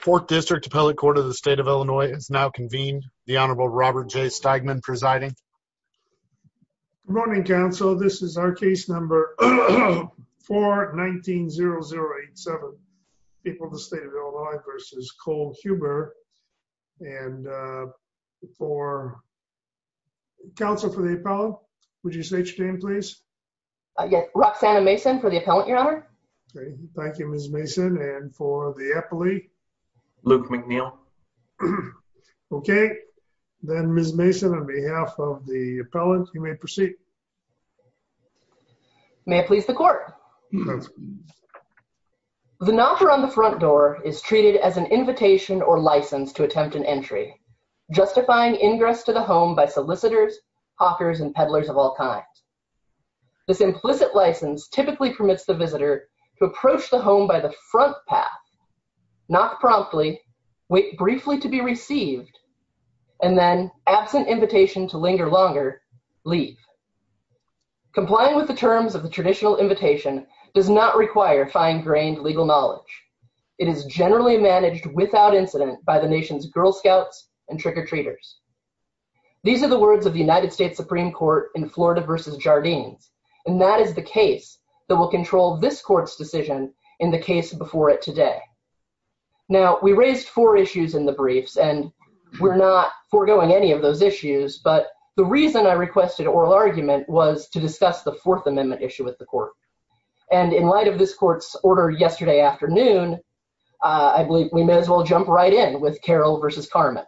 Fork District Appellate Court of the State of Illinois is now convened. The Honorable Robert J. Stegman presiding. Good morning, counsel. This is our case number 419-0087, people of the State of Illinois v. Cole Huber and for Counsel for the appellant, would you state your name, please? Yes, Roxanna Mason for the appellant, Your Honor. Thank you, Ms. Mason. And for the appellee? Luke McNeil. Okay, then, Ms. Mason, on behalf of the appellant, you may proceed. May it please the court. The knocker on the front door is treated as an invitation or license to attempt an entry, justifying ingress to the home by solicitors, hawkers, and peddlers of all kinds. This implicit license typically permits the visitor to approach the home by the front path, knock promptly, wait briefly to be received, and then, absent invitation to linger longer, leave. Complying with the terms of the traditional invitation does not require fine-grained legal knowledge. It is generally managed without incident by the nation's Girl Scouts and trick-or-treaters. These are the words of the United States Supreme Court in Florida versus Jardines, and that is the case that will control this court's decision in the case before it today. Now, we raised four issues in the briefs, and we're not foregoing any of those issues, but the reason I requested oral argument was to discuss the Fourth Amendment issue with the court, and in light of this court's order yesterday afternoon, I believe we may as well jump right in with Carroll versus Carman.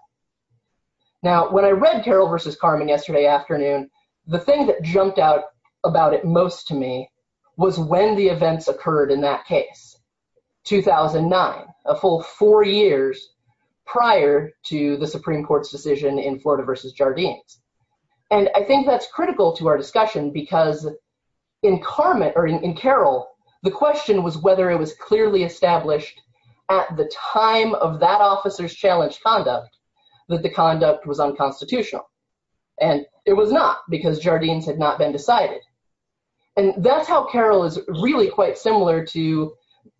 Now, when I read Carroll versus Carman yesterday afternoon, the thing that jumped out about it most to me was when the events occurred in that case, 2009, a full four years prior to the Supreme Court's decision in Florida versus Jardines, and I think that's critical to our discussion because in Carroll, the question was whether it was clearly established at the time of that officer's challenged conduct that the conduct was unconstitutional, and it was not because Jardines had not been decided, and that's how Carroll is really quite similar to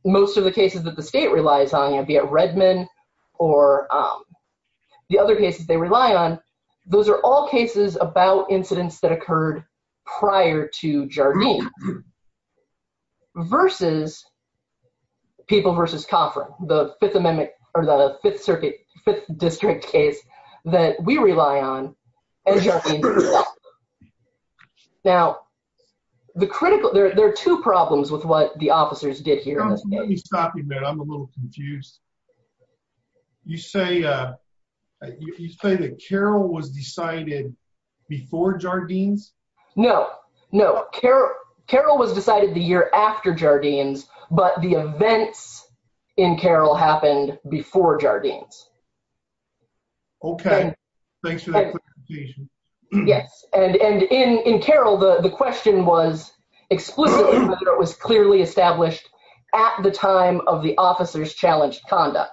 most of the cases that the state relies on, be it Redmond or the other cases they rely on. Those are all cases about incidents that occurred prior to Jardines versus People versus Coffran, the Fifth Amendment or the Fifth Circuit, Fifth District case that we rely on as Jardines does. Now, the critical, there are two problems with what the officers did here. Let me stop you, man. I'm a little confused. You say, uh, you say that Carroll was decided before Jardines? No, no. Carroll was decided the year after Jardines, but the events in Carroll happened before Jardines. Okay. Yes, and in Carroll, the question was explicitly whether it was clearly established at the time of the officer's challenged conduct,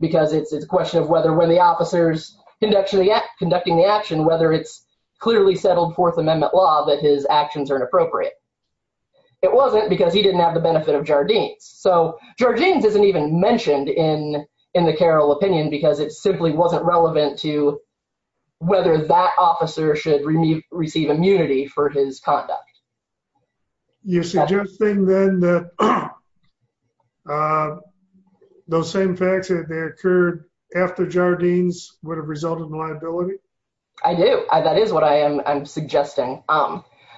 because it's a question of whether when the officer's conducting the action, whether it's clearly settled Fourth Amendment law that his actions are inappropriate. It wasn't because he didn't have the benefit of Jardines. So Jardines isn't even mentioned in the Carroll opinion because it simply wasn't relevant to whether that officer should receive immunity for his conduct. You're suggesting then that those same facts that they occurred after Jardines would have resulted in liability? I do. That is what I am suggesting.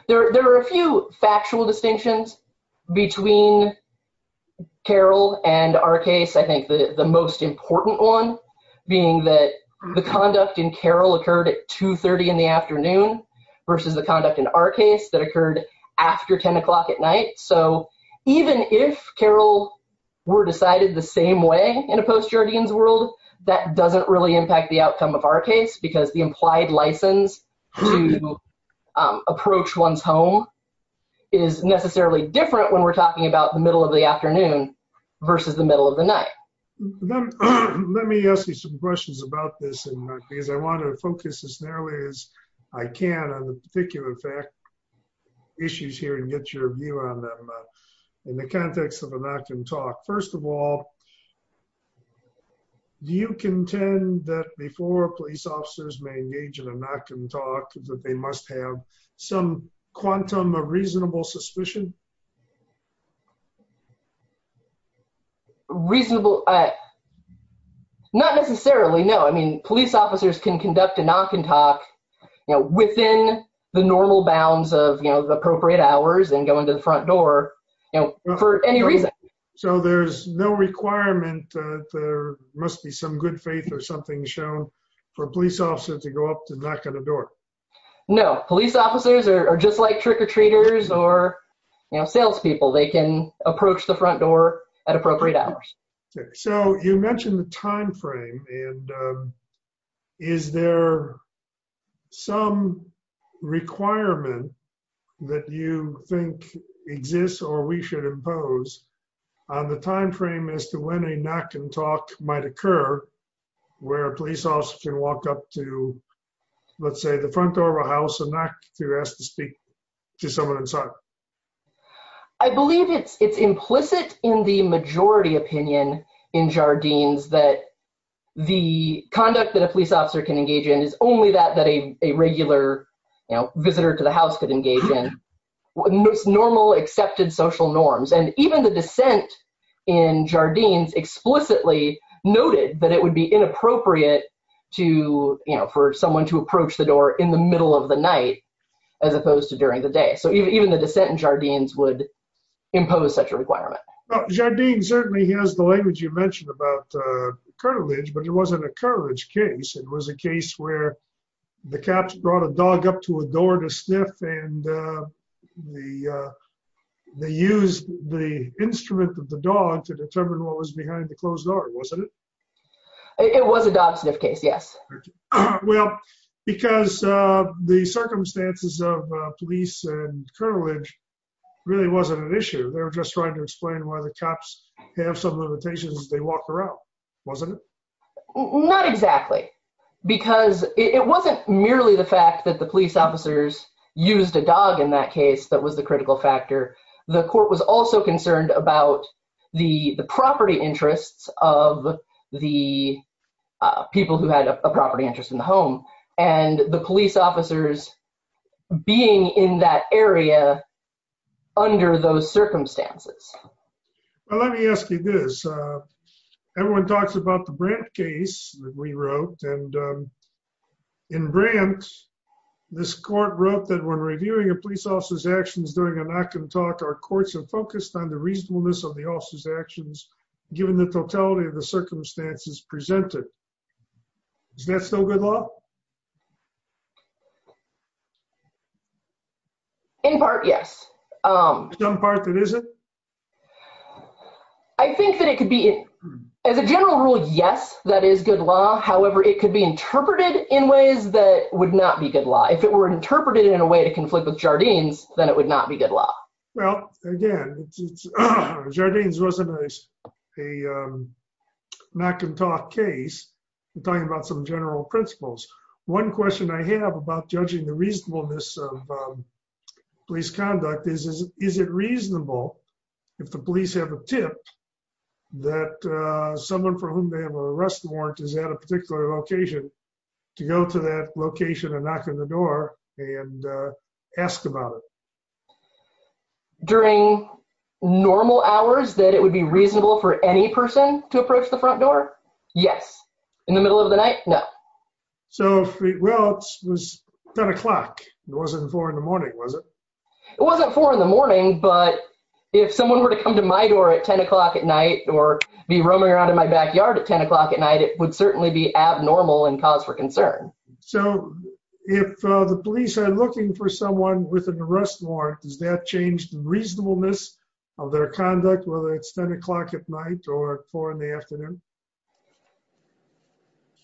There are a few factual distinctions between Carroll and our case. I think the most important one being that the conduct in Carroll occurred at 2.30 in the afternoon versus the conduct in our case that occurred after 10 o'clock at night. So even if Carroll were decided the same way in a post-Jardines world, that doesn't really impact the outcome of our case because the implied license to approach one's home is necessarily different when we're talking about the middle of the afternoon versus the middle of the night. Let me ask you some questions about this because I want to focus as narrowly as I can on the particular fact issues here and get your view on them in the context of a knock and talk. First of all, do you contend that before police officers may engage in a knock and talk that they must have some quantum of reasonable suspicion? Reasonable... Not necessarily, no. I mean police officers can conduct a knock and talk within the normal bounds of the appropriate hours and going to the front door for any reason. So there's no requirement that there must be some good faith or something shown for a police officer to go up to knock at a door? No, police officers are just like trick-or-treaters or salespeople. They can approach the front door at appropriate hours. So you mentioned the time frame and is there some requirement that you think exists or we should impose on the time frame as to when a knock and talk might occur where a police officer can walk up to let's say the front door of a house and knock to ask to speak to someone inside? I believe it's implicit in the majority opinion in Jardines that the conduct that a police officer can engage in is only that that a regular, you know, visitor to the house could engage in normal accepted social norms. And even the dissent in Jardines explicitly noted that it would be inappropriate to, you know, for someone to approach the door in the middle of the night as opposed to during the day. So even the dissent in Jardines would impose such a requirement. Well, Jardines certainly has the language you mentioned about cartilage, but it wasn't a cartilage case. It was a case where the cops brought a dog up to a door to sniff and they used the instrument of the dog to determine what was behind the closed door, wasn't it? It was a dog sniff case, yes. Well, because the circumstances of police and cartilage really wasn't an issue. They were just trying to explain why the cops have some limitations as they walk around, wasn't it? Not exactly. Because it wasn't merely the fact that the police officers used a dog in that case that was the critical factor. The court was also concerned about the property interests of the people who had a property interest in the home and the police officers being in that area under those circumstances. Well, let me ask you this. Everyone talks about the Brandt case that we wrote and in Brandt this court wrote that when reviewing a police officer's actions during a knock-and-talk, our courts are focused on the reasonableness of the officer's actions given the totality of the circumstances presented. Is that still good law? In part, yes. In some parts, it isn't? I think that it could be as a general rule, yes, that is good law. However, it could be interpreted in ways that would not be good law. If it were interpreted in a way to conflict with Jardines, then it would not be good law. Well, again, Jardines wasn't a knock-and-talk case. We're talking about some general principles. One question I have about judging the reasonableness of police conduct is, is it reasonable if the police have a tip that someone for whom they have an arrest warrant is at a particular location to go to that location and knock on the door and ask about it? During normal hours that it would be reasonable for any person to approach the front door? Yes. In the middle of the night? No. Well, it was 10 o'clock. It wasn't 4 in the morning, was it? It wasn't 4 in the morning, but if someone were to come to my door at 10 o'clock at night or be roaming around in my backyard at 10 o'clock at night, it would certainly be abnormal and cause for concern. So if the police are looking for someone with an arrest warrant, does that change the reasonableness of their conduct, whether it's 10 o'clock at night or 4 in the afternoon?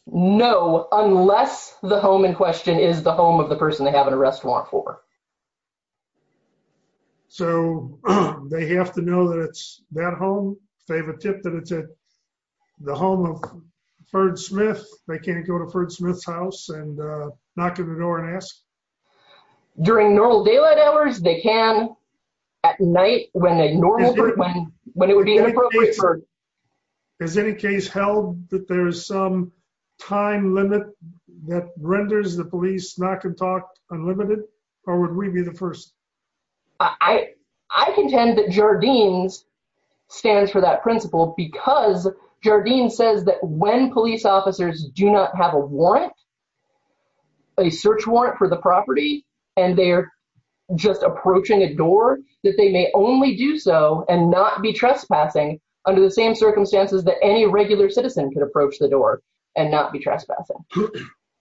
No, unless the home in question is the home of the person they have an arrest warrant for. So they have to know that it's that home. If they have a tip that it's at the home of Ferg Smith, they can't go to Ferg Smith's house and knock on the door and ask? During normal daylight hours, they can. At night, when a normal, when it would be inappropriate for... Has any case held that there's some time limit that renders the police knock and talk unlimited, or would we be the first? I contend that Jardine's stands for that principle because Jardine says that when police officers do not have a warrant, a search warrant for the property, and they're just approaching a door, that they may only do so and not be trespassing under the same circumstances that any regular citizen could approach the door and not be trespassing.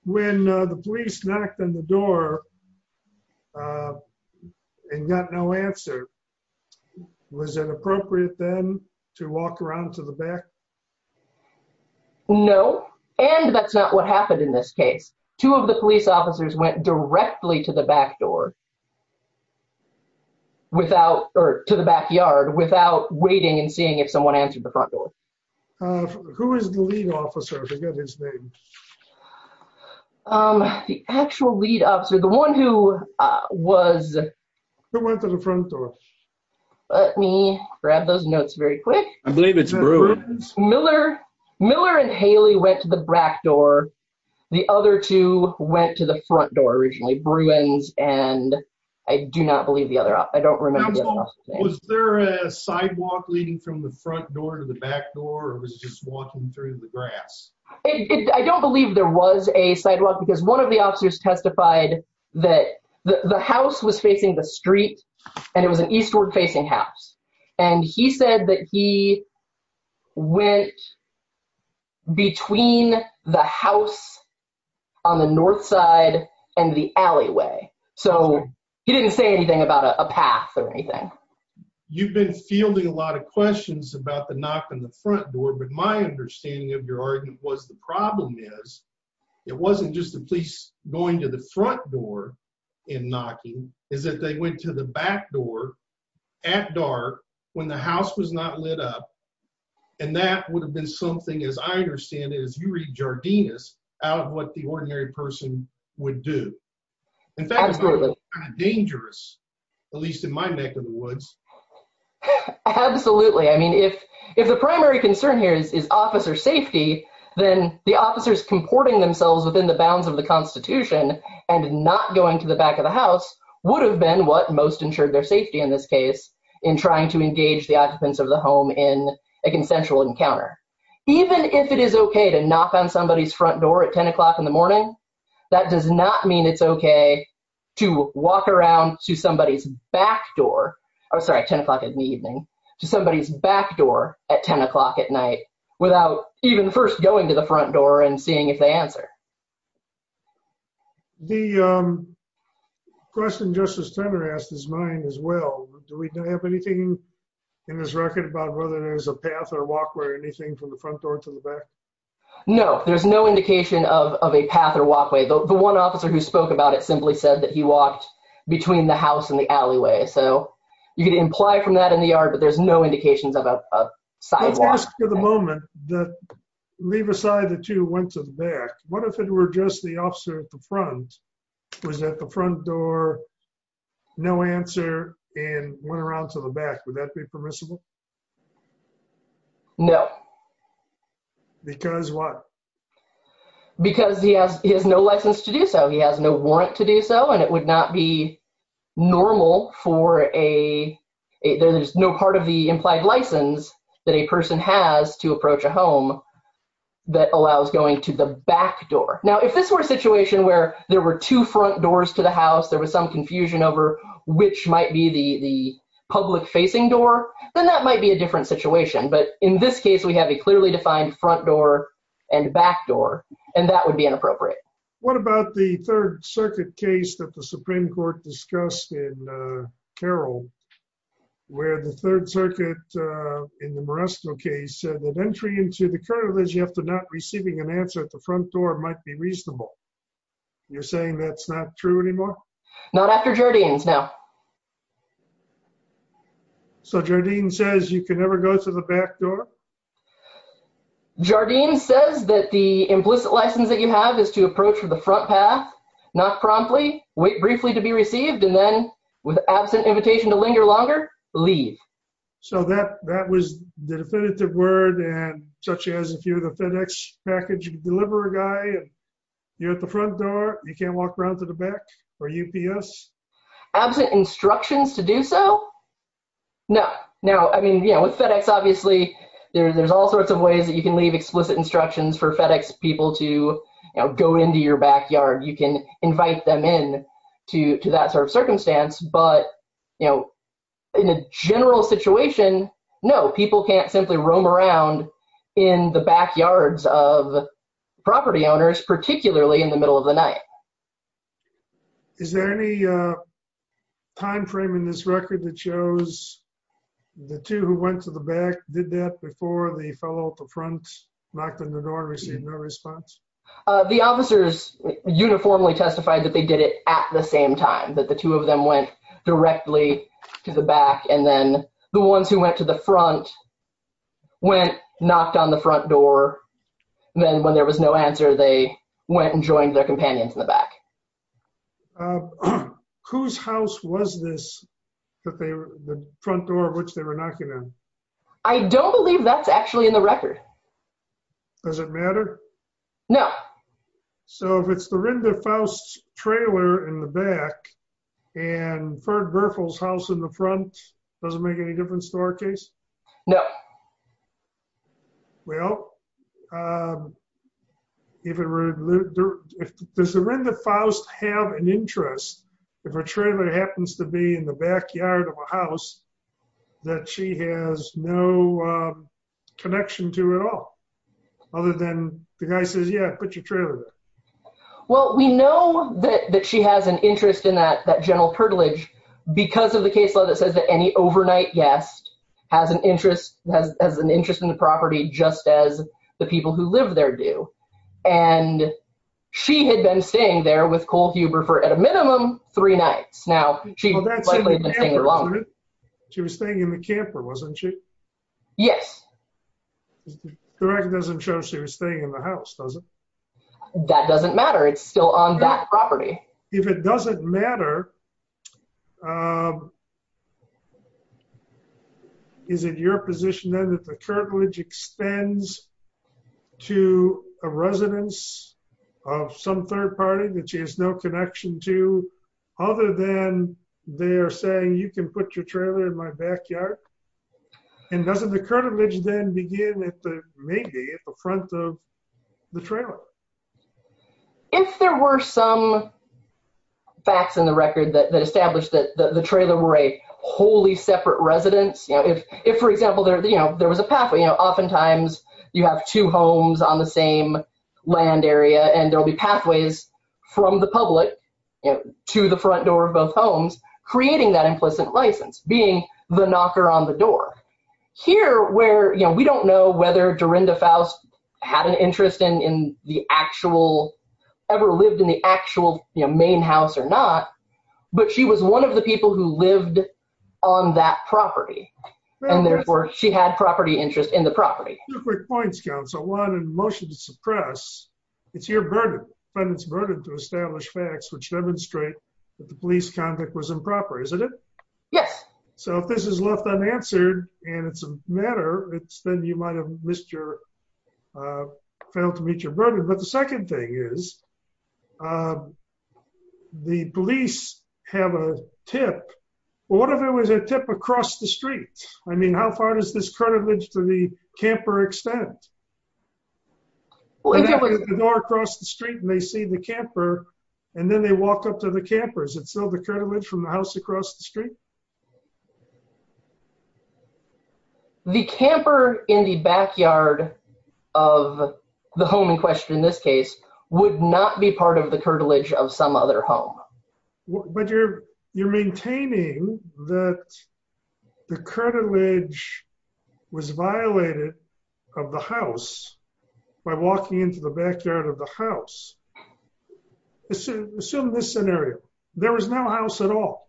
When the police knocked on the door and got no answer, was it appropriate then to walk around to the back? No, and that's not what happened in this case. Two of the police officers went directly to the back door. Without, or to the backyard, without waiting and seeing if someone answered the front door. Who is the lead officer? I forget his name. The actual lead officer, the one who was... Who went to the front door. Let me grab those notes very quick. I believe it's Bruins. Miller and Haley went to the back door. The other two went to the front door originally, Bruins and I do not believe the other. I don't remember. Was there a sidewalk leading from the front door to the back door or was it just walking through the grass? I don't believe there was a sidewalk because one of the officers testified that the house was facing the street and it was an eastward facing house and he said that he went between the house on the north side and the alleyway, so he didn't say anything about a path or anything. You've been fielding a lot of questions about the knock on the front door, but my understanding of your argument was the problem is it wasn't just the police going to the front door and knocking, is that they went to the back door at dark when the house was not lit up. And that would have been something, as I understand it, as you read Jardinus, out of what the ordinary person would do. In fact, it's kind of dangerous, at least in my neck of the woods. Absolutely, I mean if the primary concern here is officer safety, then the officers comporting themselves within the bounds of the constitution and not going to the back of the house would have been what most ensured their safety in this case in trying to engage the occupants of the home in a consensual encounter. Even if it is okay to knock on somebody's front door at 10 o'clock in the morning, that does not mean it's okay to walk around to somebody's back door, I'm sorry, 10 o'clock in the evening, to somebody's back door at 10 o'clock at night without even first going to the front door and seeing if they answer. The question Justice Turner asked is mine as well. Do we have anything in this record about whether there's a path or walkway or anything from the front door to the back? No, there's no indication of a path or walkway. The one officer who spoke about it simply said that he walked between the house and the alleyway, so you could imply from that in the yard, but there's no indications of a sidewalk. Let's ask for the moment that leave aside that you went to the back, what if it were just the officer at the front, was at the front door, no answer, and went around to the back, would that be permissible? No. Because what? Because he has no license to do so, he has no warrant to do so, and it would not be normal for a, there's no part of the implied license that a person has to approach a home that allows going to the back door. Now, if this were a situation where there were two front doors to the house, there was some confusion over which might be the clearly defined front door and back door, and that would be inappropriate. What about the Third Circuit case that the Supreme Court discussed in Carroll, where the Third Circuit in the Moresto case said that entry into the Courthouse after not receiving an answer at the front door might be reasonable. You're saying that's not true anymore? Not after Jardine's, no. So Jardine says you can never go to the back door? Jardine says that the implicit license that you have is to approach from the front path, not promptly, wait briefly to be received, and then with absent invitation to linger longer, leave. So that was the definitive word, and such as if you're the FedEx package deliverer guy, you're at the front door, you can't walk around to the back for UPS? Absent instructions to do so? No. Now, I mean, you know, with FedEx, obviously, there's all sorts of ways that you can leave explicit instructions for FedEx people to go into your backyard. You can invite them in to that sort of circumstance, but, you know, in a general situation, no, people can't simply roam around in the backyards of property owners, particularly in the middle of the night. Is there any time frame in this record that shows the two who went to the back did that before the fellow at the front knocked on the door and received no response? The officers uniformly testified that they did it at the same time, that the two of them went directly to the back, and then the ones who went to the front went, knocked on the front door, then when there was no answer, they went and joined their companions in the back. Whose house was this that they were, the front door of which they were knocking on? I don't believe that's actually in the record. Does it matter? No. So if it's the Rinder Faust trailer in the back, and Ferd Werfel's house in the front, does it make any difference to our case? No. Well, if it were, does the Rinder Faust have an interest if her trailer happens to be in the backyard of a house that she has no connection to at all? Other than the guy says, yeah, put your trailer there. Well, we know that she has an interest in that general purtilage because of the case law that says that any overnight guest has an interest in the property just as the people who live there do. And she had been staying there with Cole Huber for, at a minimum, three nights. Now, She was staying in the camper, wasn't she? Yes. The record doesn't show she was staying in the house, does it? That doesn't matter. It's still on that property. If it doesn't matter, is it your position then that the curtilage extends to a residence of some third party that she has no connection to other than they're saying you can put your trailer in my backyard? And doesn't the curtilage then begin at the, maybe, at the front of the trailer? If there were some facts in the record that established that the trailer were a wholly separate residence, if, for example, there was a pathway, oftentimes you have two homes on the same land area and there'll be pathways from the public to the front door of both homes, creating that implicit license, being the knocker on the door. Here, where we don't know whether Dorinda Faust had an interest in the actual, ever lived in the actual main house or not, but she was one of the people who lived on that property, and therefore she had property interest in the property. Two quick points, counsel. One, in motion to suppress, it's your burden, defendant's burden, to establish facts which demonstrate that the police conduct was improper, isn't it? Yes. So if this is left unanswered and it's a matter, then you might have missed your, failed to meet your burden. But the second thing is the police have a tip Well, what if it was a tip across the street? I mean, how far does this curtilage to the camper extend? Well, if it was the door across the street and they see the camper and then they walk up to the camper, is it still the curtilage from the house across the street? The camper in the backyard of the home in question, in this case, would not be part of the curtilage of some other home. But you're maintaining that the curtilage was violated of the house by walking into the backyard of the house. Assume this scenario, there was no house at all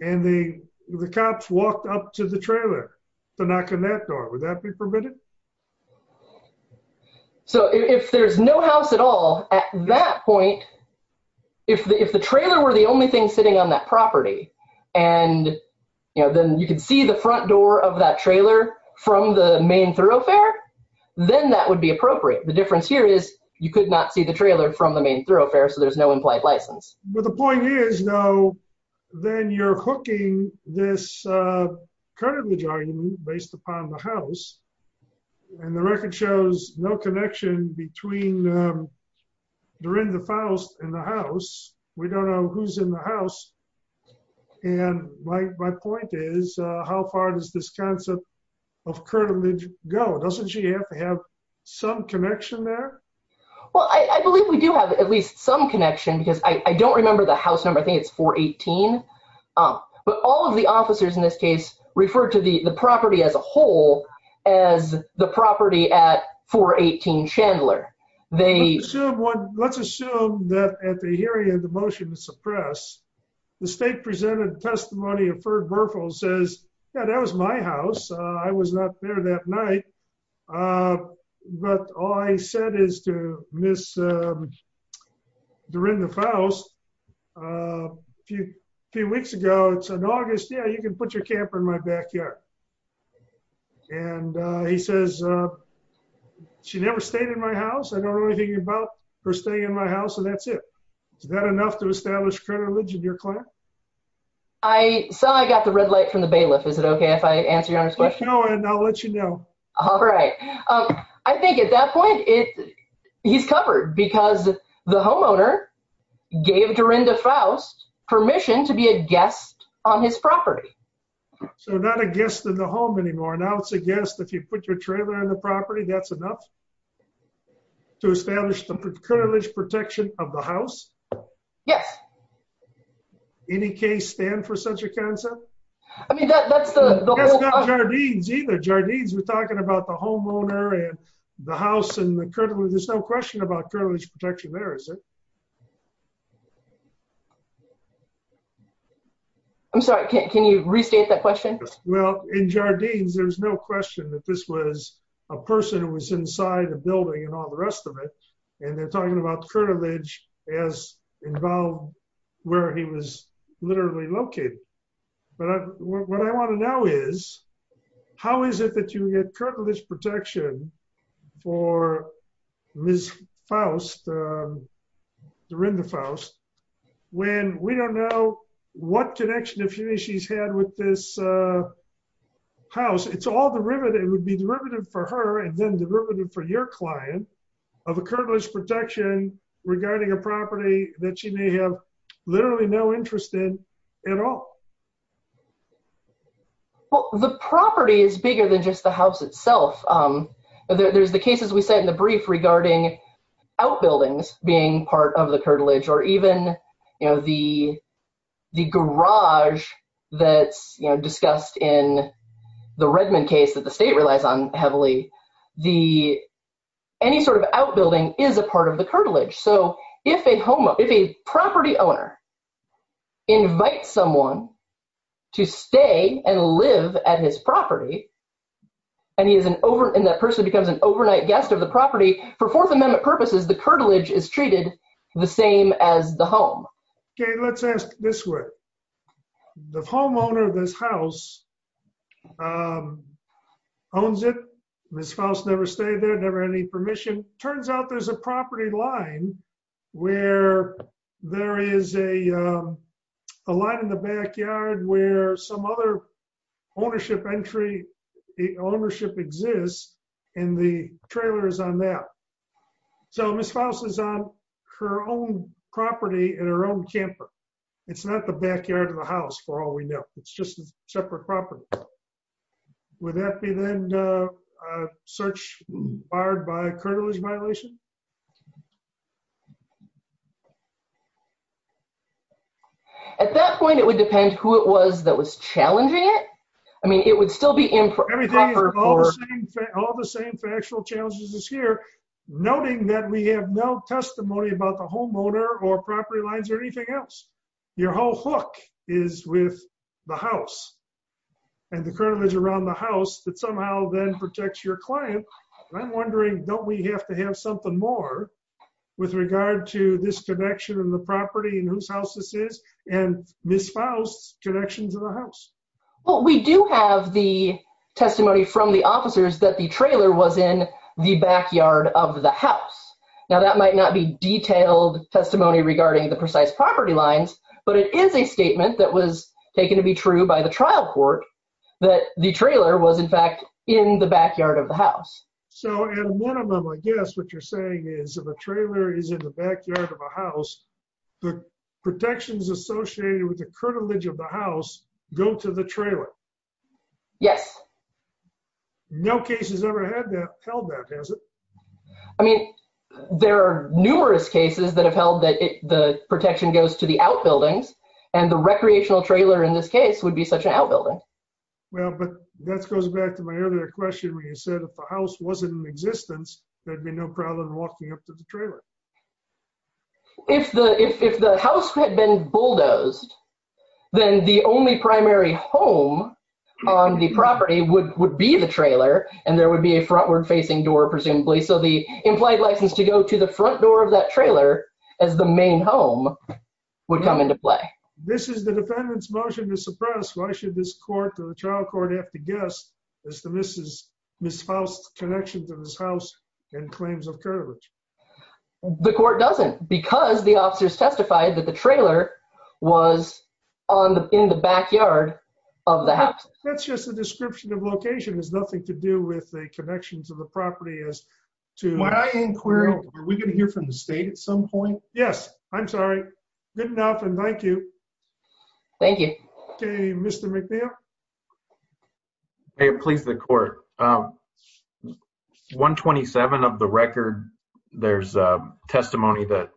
and the cops walked up to the trailer to knock on that door, would that be permitted? So if there's no house at all at that point, if the trailer were the only thing sitting on that property and then you can see the front door of that trailer from the main thoroughfare, then that would be appropriate. The difference here is you could not see the trailer from the main thoroughfare, so there's no implied license. Well, the point is though, then you're hooking this curtilage argument based upon the house and the record shows no connection between Dorinda Faust and the house. We don't know who's in the house and my point is, how far does this concept of curtilage go? Doesn't she have to have some connection there? Well, I believe we do have at least some connection because I don't remember the house number. I think it's 418. But all of the officers in this case refer to the property as a whole as the property at 418 Chandler. Let's assume that at the hearing of the motion to suppress, the state presented testimony of Ferg Berfel says, yeah, that was my house. I was not there that night. But all I said is to Miss Dorinda Faust, a few weeks ago, it's in August. Yeah, you can put your camper in my backyard. And he says, she never stayed in my house. I don't know anything about her staying in my house. And that's it. Is that enough to establish curtilage in your claim? I saw I got the red light from the bailiff. Is it okay if I answer your Honor's question? Keep going and I'll let you know. All right. I think at that point, he's covered because the homeowner gave Dorinda Faust permission to be a guest on his property. So not a guest in the home anymore. Now it's a guest if you put your trailer on the trailer. On the property, that's enough to establish the curtilage protection of the house. Yes. Any case stand for such a concept? I mean, that's not Jardines either. Jardines, we're talking about the homeowner and the house and the curtilage. There's no question about curtilage protection there, is it? I'm sorry, can you restate that question? Well, in Jardines, there's no question that this was a person who was inside a building and all the rest of it. And they're talking about curtilage as involved where he was literally located. But what I want to know is, how is it that you get curtilage protection for Ms. Faust, Dorinda Faust, when we don't know what connection she's had with this house? It's all derivative. It would be derivative for her and then derivative for your client of a curtilage protection regarding a property that she may have literally no interest in at all. Well, the property is bigger than just the house itself. There's the cases we said in the brief regarding outbuildings being part of the curtilage or even, you know, the garage that's, you know, discussed in the Redmond case that the state relies on heavily. Any sort of outbuilding is a part of the curtilage. So if a property owner invites someone to stay and live at his property, and that person becomes an overnight guest of the property, for Fourth Amendment purposes, the curtilage is treated the same as the home. Okay, let's ask this way. The homeowner of this house owns it. Ms. Faust never stayed there, never had any permission. Turns out there's a property line where there is a a lot in the backyard where some other ownership entry, ownership exists, and the trailer is on that. So Ms. Faust is on her own property in her own camper. It's not the backyard of the house, for all we know. It's just a separate property. Would that be then a search barred by a curtilage violation? At that point, it would depend who it was that was challenging it. I mean, it would still be improper. All the same factual challenges this year, noting that we have no testimony about the homeowner or property lines or anything else. Your whole hook is with the house and the curtilage around the house that somehow then protects your client. I'm wondering, don't we have to have something more with regard to this connection of the property and whose house this is and Ms. Faust's connection to the house? Well, we do have the officers that the trailer was in the backyard of the house. Now that might not be detailed testimony regarding the precise property lines, but it is a statement that was taken to be true by the trial court that the trailer was in fact in the backyard of the house. So and one of them, I guess what you're saying is if a trailer is in the backyard of a house, the protections associated with the curtilage of the house go to the trailer. Yes. No cases ever have held that, has it? I mean, there are numerous cases that have held that the protection goes to the outbuildings and the recreational trailer in this case would be such an outbuilding. Well, but that goes back to my earlier question when you said if the house wasn't in existence, there'd be no problem walking up to the trailer. If the house had been bulldozed, then the only primary home on the property would be the trailer and there would be a frontward facing door presumably. So the implied license to go to the front door of that trailer as the main home would come into play. This is the defendant's motion to suppress. Why should this court or the trial court have to guess as to Ms. Faust's connection to this house and claims of curtilage? The court doesn't because the officers testified that the trailer was in the backyard of the house. That's just a description of location. It has nothing to do with the connections of the property. When I inquire, are we going to hear from the state at some point? Yes. I'm sorry. Good enough and thank you. Thank you. Okay, Mr. McNair. May it please the court. 127 of the record, there's a testimony that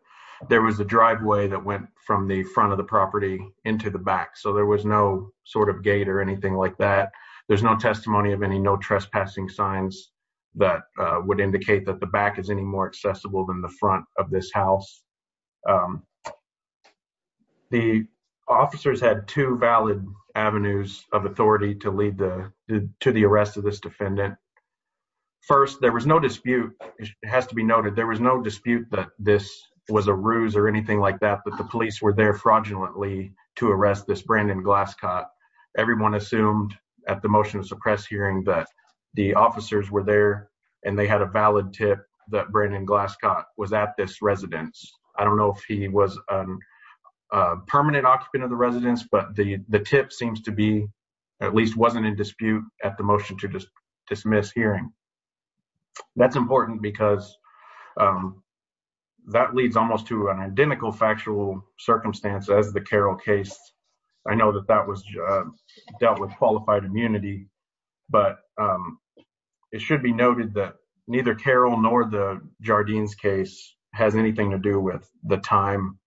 there was a driveway that went from the front of the property into the back. So there was no sort of gate or anything like that. There's no testimony of any no trespassing signs that would indicate that the back is any more accessible than the front of this house. The officers had two valid avenues of authority to lead to the arrest of this defendant. First, there was no dispute. It has to be noted. There was no dispute that this was a ruse or anything like that, but the police were there fraudulently to arrest this Brandon Glasscott. Everyone assumed at the motion to suppress hearing that the officers were there and they had a valid tip that Brandon Glasscott was at this residence. I don't know if he was a permanent occupant of the residence, but the tip seems to be, at least wasn't in dispute at the motion to dismiss hearing. That's important because that leads almost to an identical factual circumstance as the Carroll case. I know that that was dealt with qualified immunity, but it should be noted that neither Carroll nor the Jardines case has anything to do with the time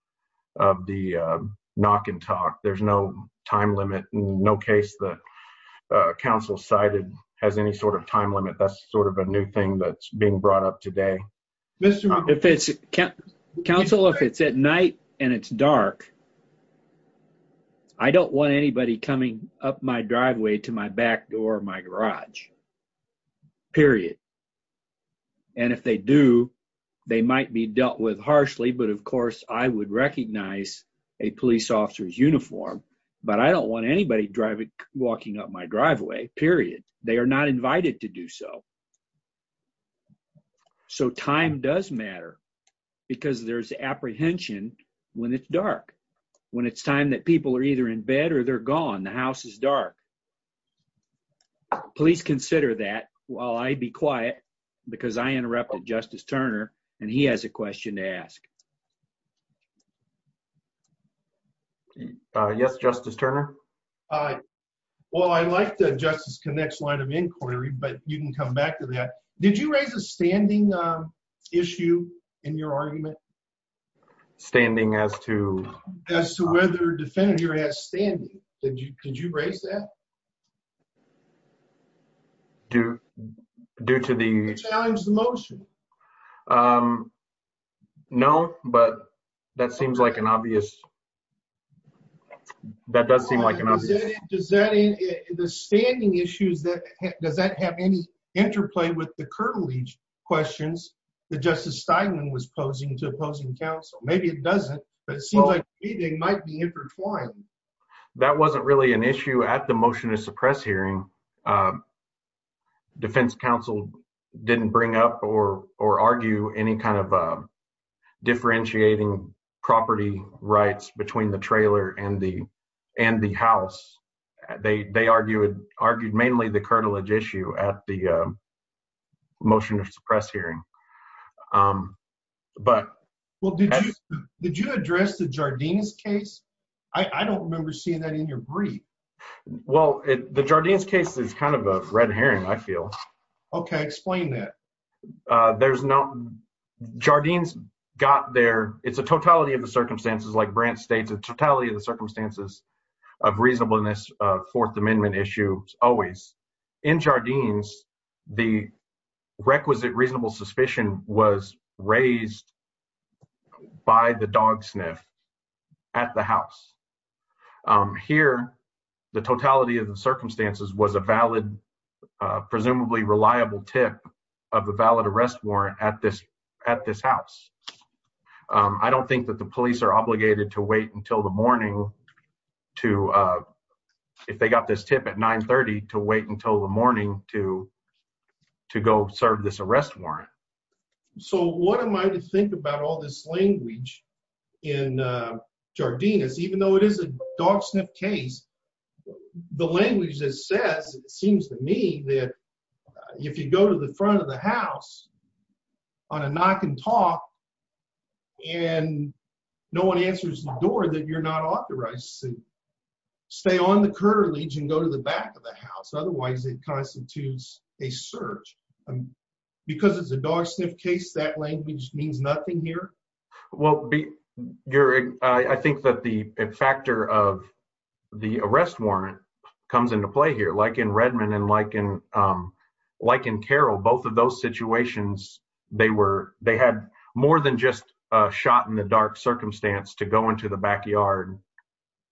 of the knock and talk. There's no time limit, no case that has any sort of time limit. That's sort of a new thing that's being brought up today. Counsel, if it's at night and it's dark, I don't want anybody coming up my driveway to my back door or my garage, period. And if they do, they might be dealt with harshly, but of course I would recognize a police officer's uniform, but I don't want anybody driving, walking up my driveway, period. They are not invited to do so. So time does matter because there's apprehension when it's dark, when it's time that people are either in bed or they're gone, the house is dark. Please consider that while I be quiet because I interrupted Justice Turner and he has a question to ask. Yes, Justice Turner. Well, I like the Justice Connick's line of inquiry, but you can come back to that. Did you raise a standing issue in your argument? Standing as to? As to whether a defendant here has standing. Did you raise that? Due to the... Did you challenge the motion? No. But that seems like an obvious... That does seem like an obvious... The standing issues, does that have any interplay with the current questions that Justice Steinman was posing to opposing counsel? Maybe it doesn't, but it seems like they might be intertwined. That wasn't really an issue at the motion to suppress hearing. Defense counsel didn't bring up or argue any kind of differentiating property rights between the trailer and the house. They argued mainly the curtilage issue at the motion to suppress hearing. Well, did you address the Jardine's case? I don't remember seeing that in your brief. Well, the Jardine's case is kind of a red herring, I feel. Okay, explain that. There's no... Jardine's got their... It's a totality of the circumstances, like Brandt states, a totality of the circumstances of reasonableness, Fourth Amendment issues, always. In Jardine's, the requisite reasonable suspicion was raised by the dog sniff at the house. Here, the totality of the circumstances was a valid, presumably reliable tip of a valid arrest warrant at this house. I don't think that the police are obligated to wait until the morning to, if they got this tip at 9 30, to wait until the morning to go serve this arrest warrant. So what am I to think about all this language in Jardine's, even though it is a dog sniff case? The language that says, it seems to me, that if you go to the front of the house on a knock and talk and no one answers the door, that you're not authorized to stay on the curtain ledge and go to the back of the house. Otherwise, it constitutes a search. Because it's a dog sniff case, that language means nothing here. Well, you're... I think that the factor of the arrest warrant comes into play here. Like in Redmond and like in Carroll, both of those situations, they had more than just a shot in the dark circumstance to go into the backyard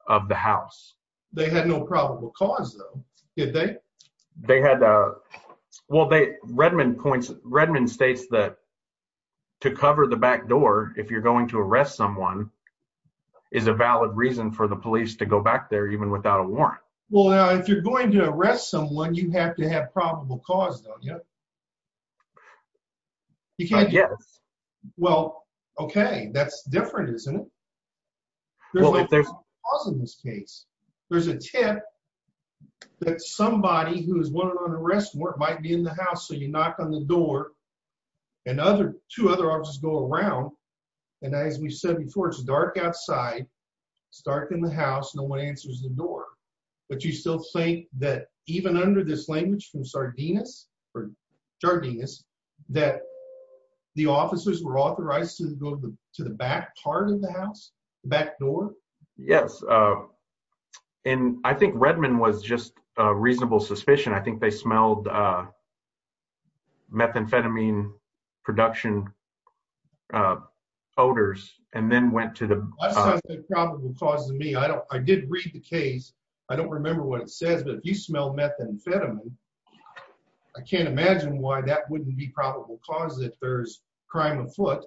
of the house. They had no probable cause though, did they? They had... Well, Redmond points... Redmond states that to cover the back door, if you're going to arrest someone, is a valid reason for the police to go back there, even without a warrant. Well, if you're going to arrest someone, you have to have probable cause, don't you? You can't... Yes. Well, okay. That's different, isn't it? There's no probable cause in this case. There's a tip that somebody who is wanted on arrest warrant might be in the house, so you knock on the door and two other officers go around. And as we've said before, it's dark outside, it's dark in the house, no one answers the door. But you still think that even under this language from Sardinus or Jardinus, that the officers were authorized to go to the back part of the house, the back door? Yes. And I think Redmond was just a reasonable suspicion. I think they smelled methamphetamine production odors and then went to the... That's not the probable cause to me. I did read the case. I don't remember what it says, but if you smell methamphetamine, I can't imagine why that wouldn't be probable cause if there's crime afoot.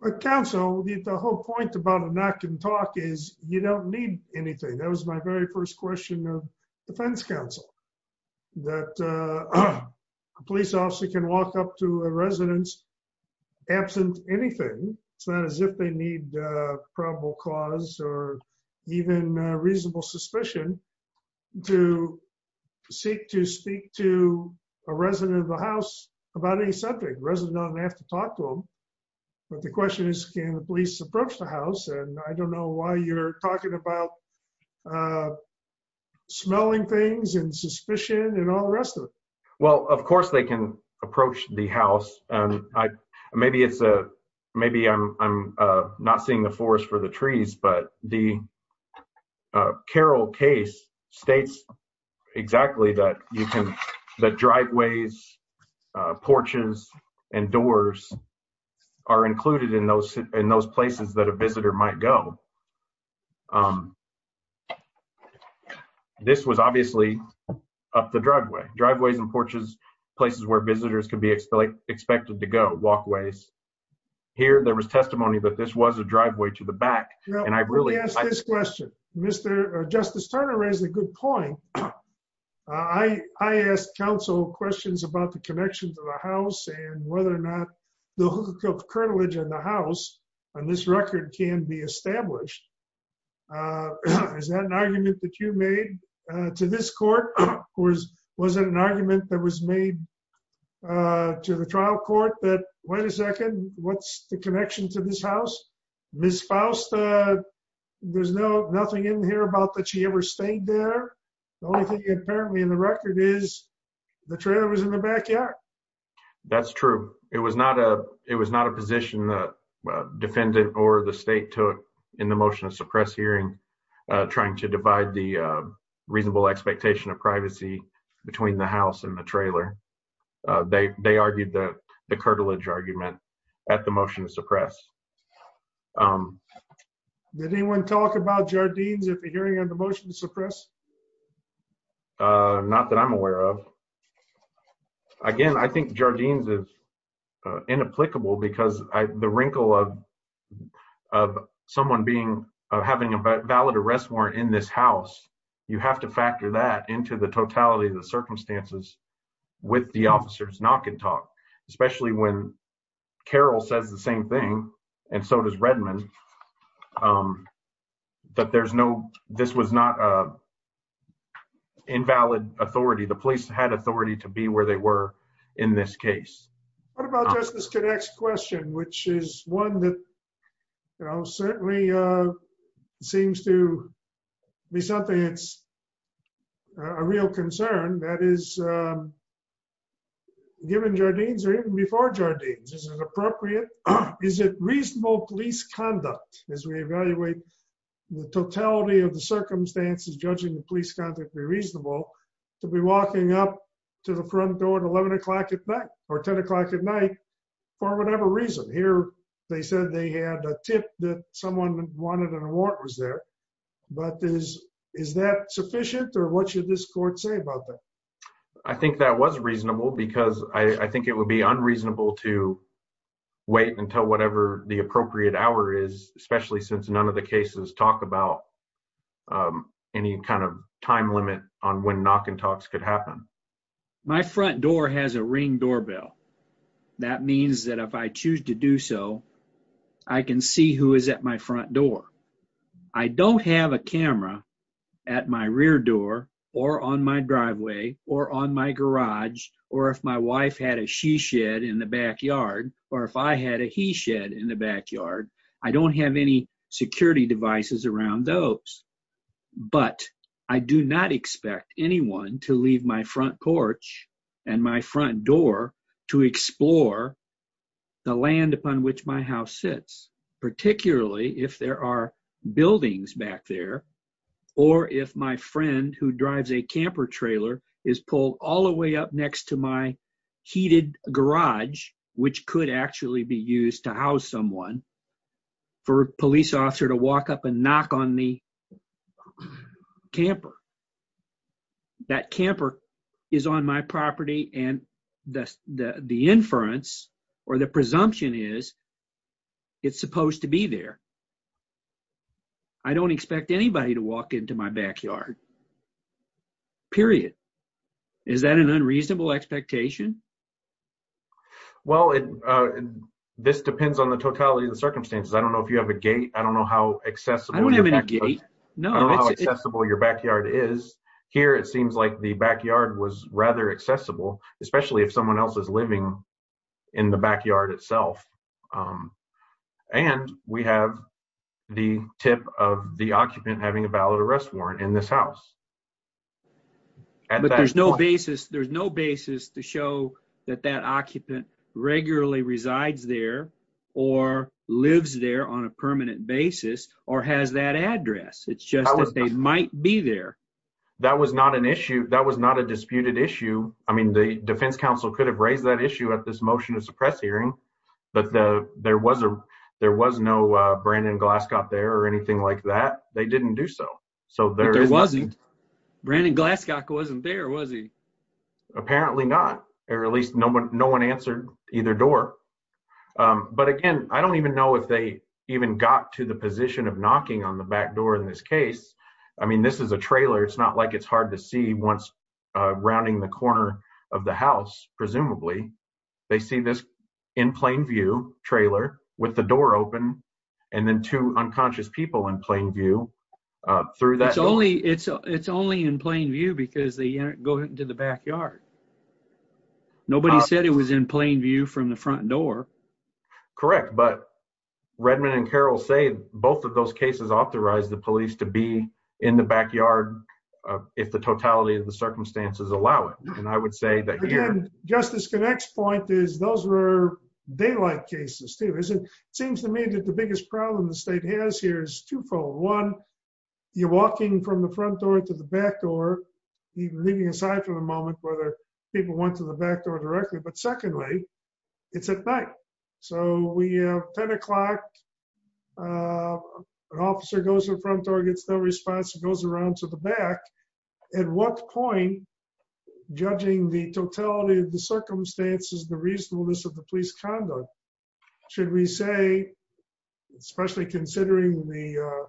But counsel, the whole point about a knock and talk is you don't need anything. That was my very first question of defense counsel. That a police officer can walk up to a residence absent anything. It's not as if they need probable cause or even reasonable suspicion to seek to speak to a resident of the house about any subject. Resident doesn't have to talk to them. But the question is, can the police approach the house? And I don't know why you're talking about smelling things and suspicion and all the rest of it. Well, of course they can approach the house. Maybe it's a... Maybe I'm not seeing the forest for the trees, but the Carroll case states exactly that you can... The driveways, porches, and doors are included in those places that a visitor might go. This was obviously up the driveway. Driveways and porches, places where visitors could be expected to go, walkways. Here, there was testimony that this was a driveway to the back. And I really... Let me ask this question. Mr. Justice Turner raised a good point. I asked counsel questions about the connection to the house and whether or not the hookup cartilage in the house on this record can be established. Is that an argument that you made to this court? Or was it an argument that was made to the trial court that, wait a second, what's the connection to this house? Ms. Faust, there's nothing in here about that she ever stayed there. The only thing apparently in the record is the trailer was in the backyard. That's true. It was not a position that defendant or the state took in the motion to suppress hearing trying to divide the reasonable expectation of privacy between the house and the trailer. They argued that the cartilage argument at the motion to suppress. Did anyone talk about jardines at the hearing on the motion to suppress? Not that I'm aware of. Again, I think jardines is inapplicable because the wrinkle of someone having a valid arrest warrant in this house, you have to factor that into the totality of the circumstances with the officer's knock and talk, especially when Carroll says the same thing, and so does Redmond, that this was not invalid authority. The police had authority to be where they were in this case. What about Justice Kodak's question, which is one that certainly seems to be something that's a real concern, that is given jardines or even before jardines, is it appropriate, is it reasonable police conduct as we evaluate the totality of the circumstances judging the police conduct be reasonable to be walking up to the front door at 11 o'clock at night or 10 o'clock at night for whatever reason? Here, they said they had a tip that someone wanted an award was there, but is that sufficient or what should this court say about that? I think that was reasonable because I think it would be unreasonable to wait until whatever the appropriate hour is, especially since none of the cases talk about any kind of time limit on when knock and talks could happen. My front door has a ring doorbell. That means that if I choose to do so, I can see who is at my front door. I don't have a camera at my rear door or on my driveway or on my garage, or if my wife had a she shed in the backyard or if I had a he shed in the backyard, I don't have any security devices around those, but I do not expect anyone to leave my front porch and my front door to explore the land upon which my house sits, particularly if there are buildings back there or if my friend who drives a camper trailer is pulled all the way up next to my heated garage, which could actually be used to house someone for a police officer to walk up and knock on the camper. That camper is on my property and the inference or the presumption is it's supposed to be there. I don't expect anybody to walk into my backyard, period. Is that an unreasonable expectation? Well, this depends on the totality of the circumstances. I don't know if you have a gate. I don't know how accessible... I don't have any gate. I don't know how accessible your backyard is. Here, it seems like the backyard was rather accessible, especially if someone else is living in the backyard itself. And we have the tip of the occupant having a ballot arrest warrant in this house. But there's no basis to show that that occupant regularly resides there or lives there on a permanent basis or has that address. It's just that they might be there. That was not an issue. That was not a disputed issue. I mean, the defense counsel could have raised that issue at this motion to suppress hearing, but there was no Brandon Glasscock there or anything like that. They didn't do so. But there wasn't. Brandon Glasscock wasn't there, was he? Apparently not or at least no one answered either door. But again, I don't even know if they even got to the position of knocking on the back door in this case. I mean, this is a trailer. It's not like it's hard to see once rounding the corner of the house, presumably. They see this in plain view trailer with the door open and then two unconscious people in plain view through that. It's only in plain view because they go into the backyard. Nobody said it was in plain view from the front door. Correct. But Redmond and Carroll say both of those cases authorize the police to be in the backyard if the totality of the circumstances allow it. And I would say that here... Again, Justice Connick's point is those were daylight cases too. It seems to me that the biggest problem the state has here is twofold. One, you're walking from the front door to the back door, leaving aside for the moment whether people went to the back door directly. But secondly, it's at night. So we have 10 o'clock, an officer goes to the front door, gets no response, goes around to the back. At what point, judging the totality of the circumstances, the reasonableness of the police conduct, should we say, especially considering the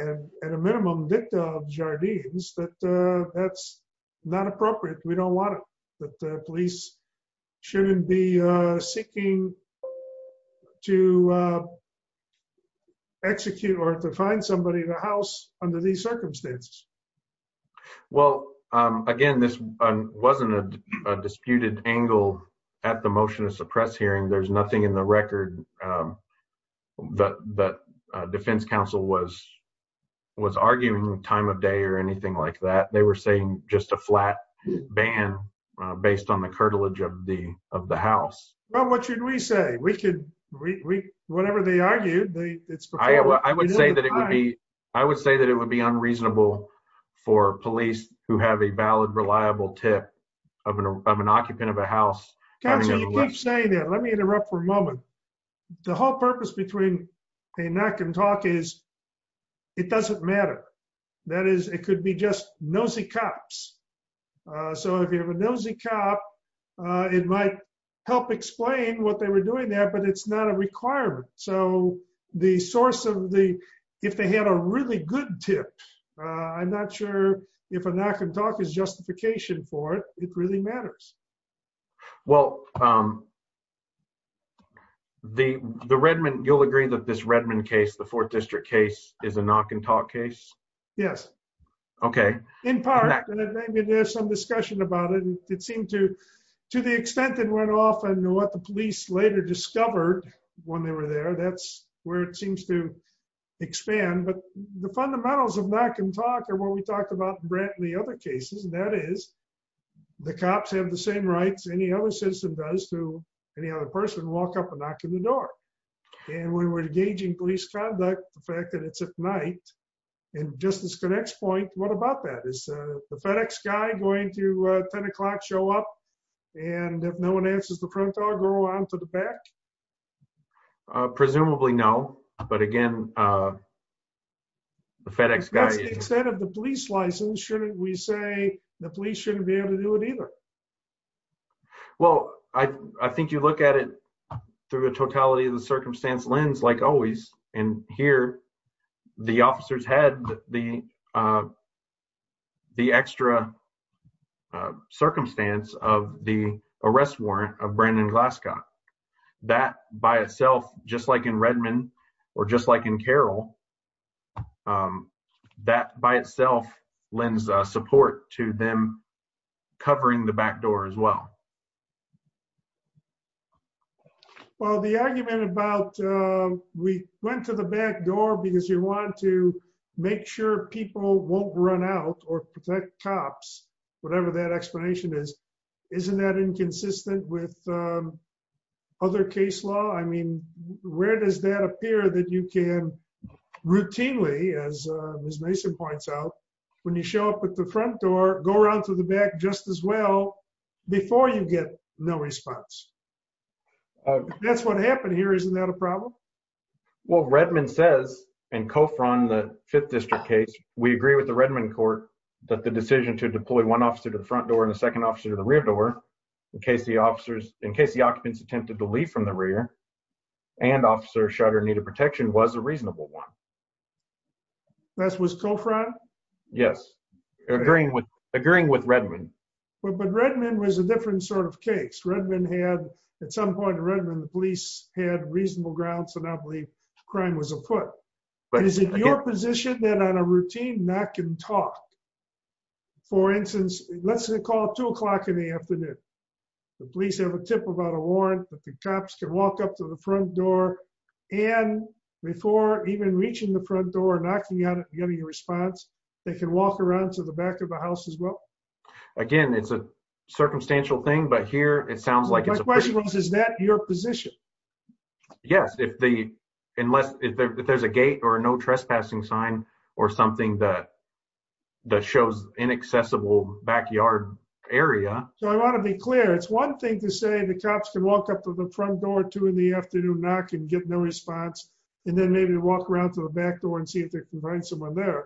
at a minimum dicta of Jardines, that that's not appropriate. We don't want it. The police shouldn't be seeking to execute or to find somebody in the house under these circumstances. Well, again, this wasn't a disputed angle at the motion to suppress hearing. There's nothing in the record that defense counsel was arguing time of day or anything like that. They were saying just a flat ban based on the curtilage of the house. Well, what should we say? Whatever they argued, I would say that it would be unreasonable for police who have a valid, reliable tip of an occupant of a house. Counsel, you keep saying that. Let me interrupt for a moment. The whole purpose between a knock and talk is it doesn't matter. That is, it could be just nosy cops. So if you have a nosy cop, it might help explain what they were doing there, but it's not a requirement. So the source of the, if they had a really good tip, I'm not sure if a knock and talk is justification for it. It really matters. Well, the Redmond, you'll agree that this Redmond case, the fourth district case, is a knock and talk case? Yes. Okay. In part, and maybe there's some discussion about it, it seemed to to the extent that went off and what the police later discovered when they were there, that's where it seems to expand. But the fundamentals of knock and talk are what we talked about in the other cases, and that is the cops have the same rights any other citizen does to any other person, walk up and knock on the door. And when we're engaging police conduct, the fact that it's at night, and just as the next point, what about that? Is the FedEx guy going to 10 o'clock show up? And if no one answers the front door, go on to the back? Presumably, no. But again, the FedEx guy... To the extent of the police license, shouldn't we say the police shouldn't be able to do it either? Well, I think you look at it through the totality of the circumstance lens, like always, and here the officers had the the extra circumstance of the arrest warrant of Brandon Glasgow. That by itself, just like in Redmond, or just like in Carroll, that by itself lends support to them covering the back door as well. Well, the argument about we went to the back door because you want to make sure people won't run out or protect cops, whatever that explanation is, isn't that inconsistent with other case law? I mean, where does that appear that you can routinely, as Ms. Mason points out, when you show up at the front door, go around to the back just as well before you get no response? That's what happened here. Isn't that a problem? Well, Redmond says, in Coffran, the Fifth District case, we agree with the Redmond court that the decision to deploy one officer to the front door and a second officer to the rear door in case the occupants attempted to leave from the rear and officers shot or needed protection was a reasonable one. That was Coffran? Yes. Agreeing with Redmond. But Redmond was a different sort of case. Redmond had, at some point in Redmond, the police had reasonable grounds to not believe crime was afoot. But is it your position that on a routine knock and talk, for instance, let's call two o'clock in the afternoon, the police have a tip about a warrant that the cops can walk up to the front door and before even reaching the front door, knocking on it, getting a response, they can walk around to the back of the house as well? Again, it's a circumstantial thing, but here it sounds like it's a question. Is that your position? Yes, if there's a gate or a no trespassing sign or something that that shows inaccessible backyard area. So I want to be clear. It's one thing to say the cops can walk up to the front door at two in the afternoon, knock and get no response, and then maybe walk around to the back door and see if they can find someone there.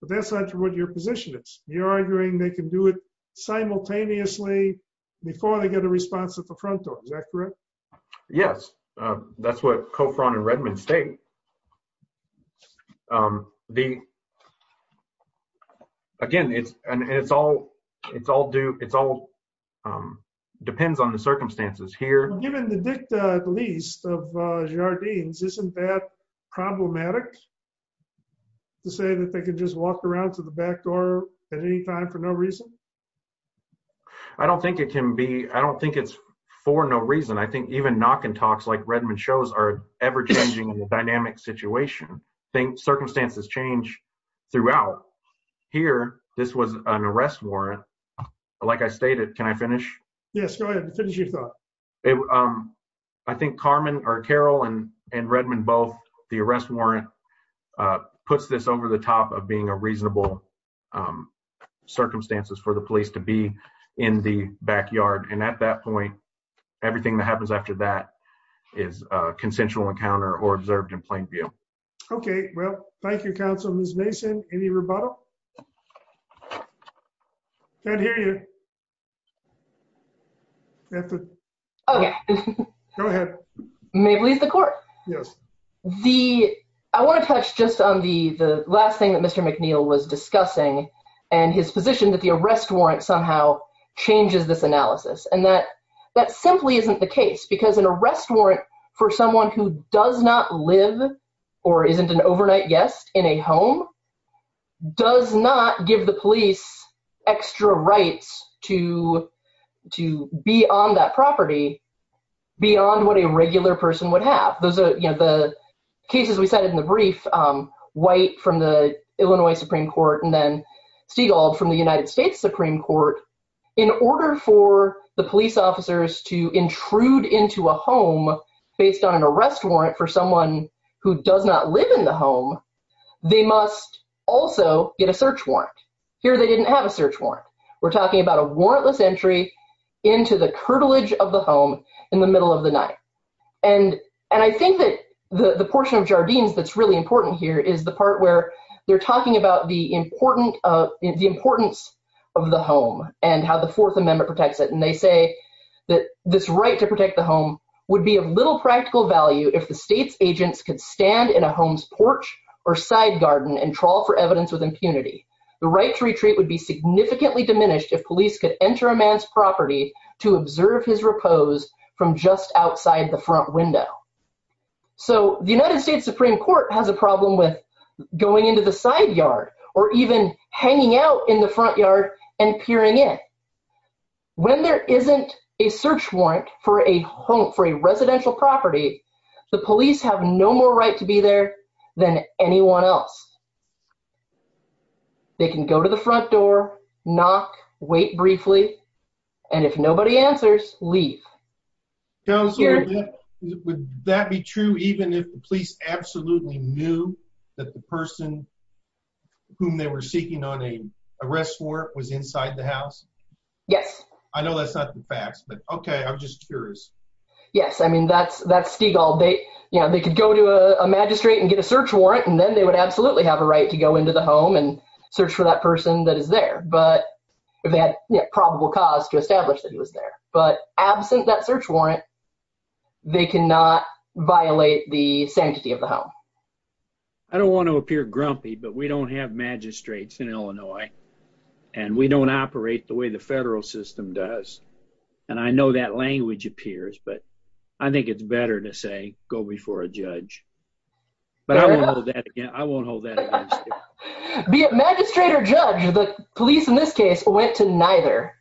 But that's not what your position is. You're arguing they can do it simultaneously before they get a response at the front door. Is that correct? Yes, that's what Coffran and Redmond state. Again, it's all depends on the circumstances here. Given the dicta, at least, of Jardines, isn't that problematic to say that they can just walk around to the back door at any time for no reason? I don't think it can be. I don't think it's for no reason. I think even knock and talks like Redmond shows are ever-changing in the dynamic situation. Circumstances change throughout. Here, this was an arrest warrant. Like I stated, can I finish? Yes, go ahead and finish your thought. I think Carmen or Carol and Redmond both, the arrest warrant puts this over the top of being a reasonable circumstances for the police to be in the backyard, and at that point everything that happens after that is a consensual encounter or observed in plain view. Okay. Well, thank you, counsel. Ms. Mason, any rebuttal? Can't hear you. Okay. Go ahead. May it please the court. I want to touch just on the last thing that Mr. McNeil was discussing and his position that the arrest warrant somehow changes this analysis, and that that simply isn't the case because an arrest warrant for someone who does not live or isn't an overnight guest in a home does not give the police extra rights to be on that property beyond what a regular person would have. Those are, you know, the cases we cited in the brief, White from the Illinois Supreme Court and then Stiegel from the United States Supreme Court, in order for the police officers to intrude into a home based on an arrest warrant for someone who does not live in the home, they must also get a search warrant. Here, they didn't have a search warrant. We're talking about a warrantless entry into the curtilage of the home in the middle of the night. And I think that the portion of Jardines that's really important here is the part where they're talking about the importance of the home and how the Fourth Amendment protects it, and they say that this right to protect the home would be of little practical value if the state's agents could stand in a home's porch or side garden and trawl for evidence with impunity. The right to retreat would be to observe his repose from just outside the front window. So the United States Supreme Court has a problem with going into the side yard or even hanging out in the front yard and peering in. When there isn't a search warrant for a home, for a residential property, the police have no more right to be there than anyone else. They can go to the front door, knock, wait briefly, and if nobody answers, leave. Counselor, would that be true even if the police absolutely knew that the person whom they were seeking on an arrest warrant was inside the house? Yes. I know that's not the facts, but okay, I'm just curious. Yes, I mean, that's Stegall. They could go to a magistrate and get a search warrant, and then they would absolutely have a right to go into the home and search for that person that is there. But they had probable cause to establish that he was there. But absent that search warrant, they cannot violate the sanctity of the home. I don't want to appear grumpy, but we don't have magistrates in Illinois, and we don't operate the way the federal system does. And I know that language appears, but I think it's better to say go before a judge. But I won't hold that against you. Be it magistrate or judge, the police in this case went to neither,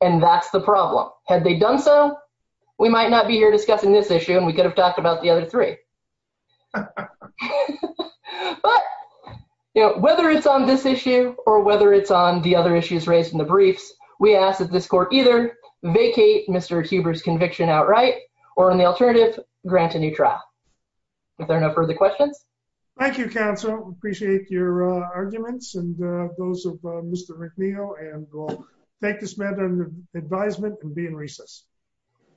and that's the problem. Had they done so, we might not be here discussing this issue, and we could have talked about the other three. But, you know, whether it's on this issue or whether it's on the other issues raised in the briefs, we ask that this court either vacate Mr. Huber's conviction outright or, in the alternative, grant a new trial. Are there no further questions? Thank you, counsel. Appreciate your arguments and those of Mr. Rick Neal, and we'll take this matter under advisement and be in recess.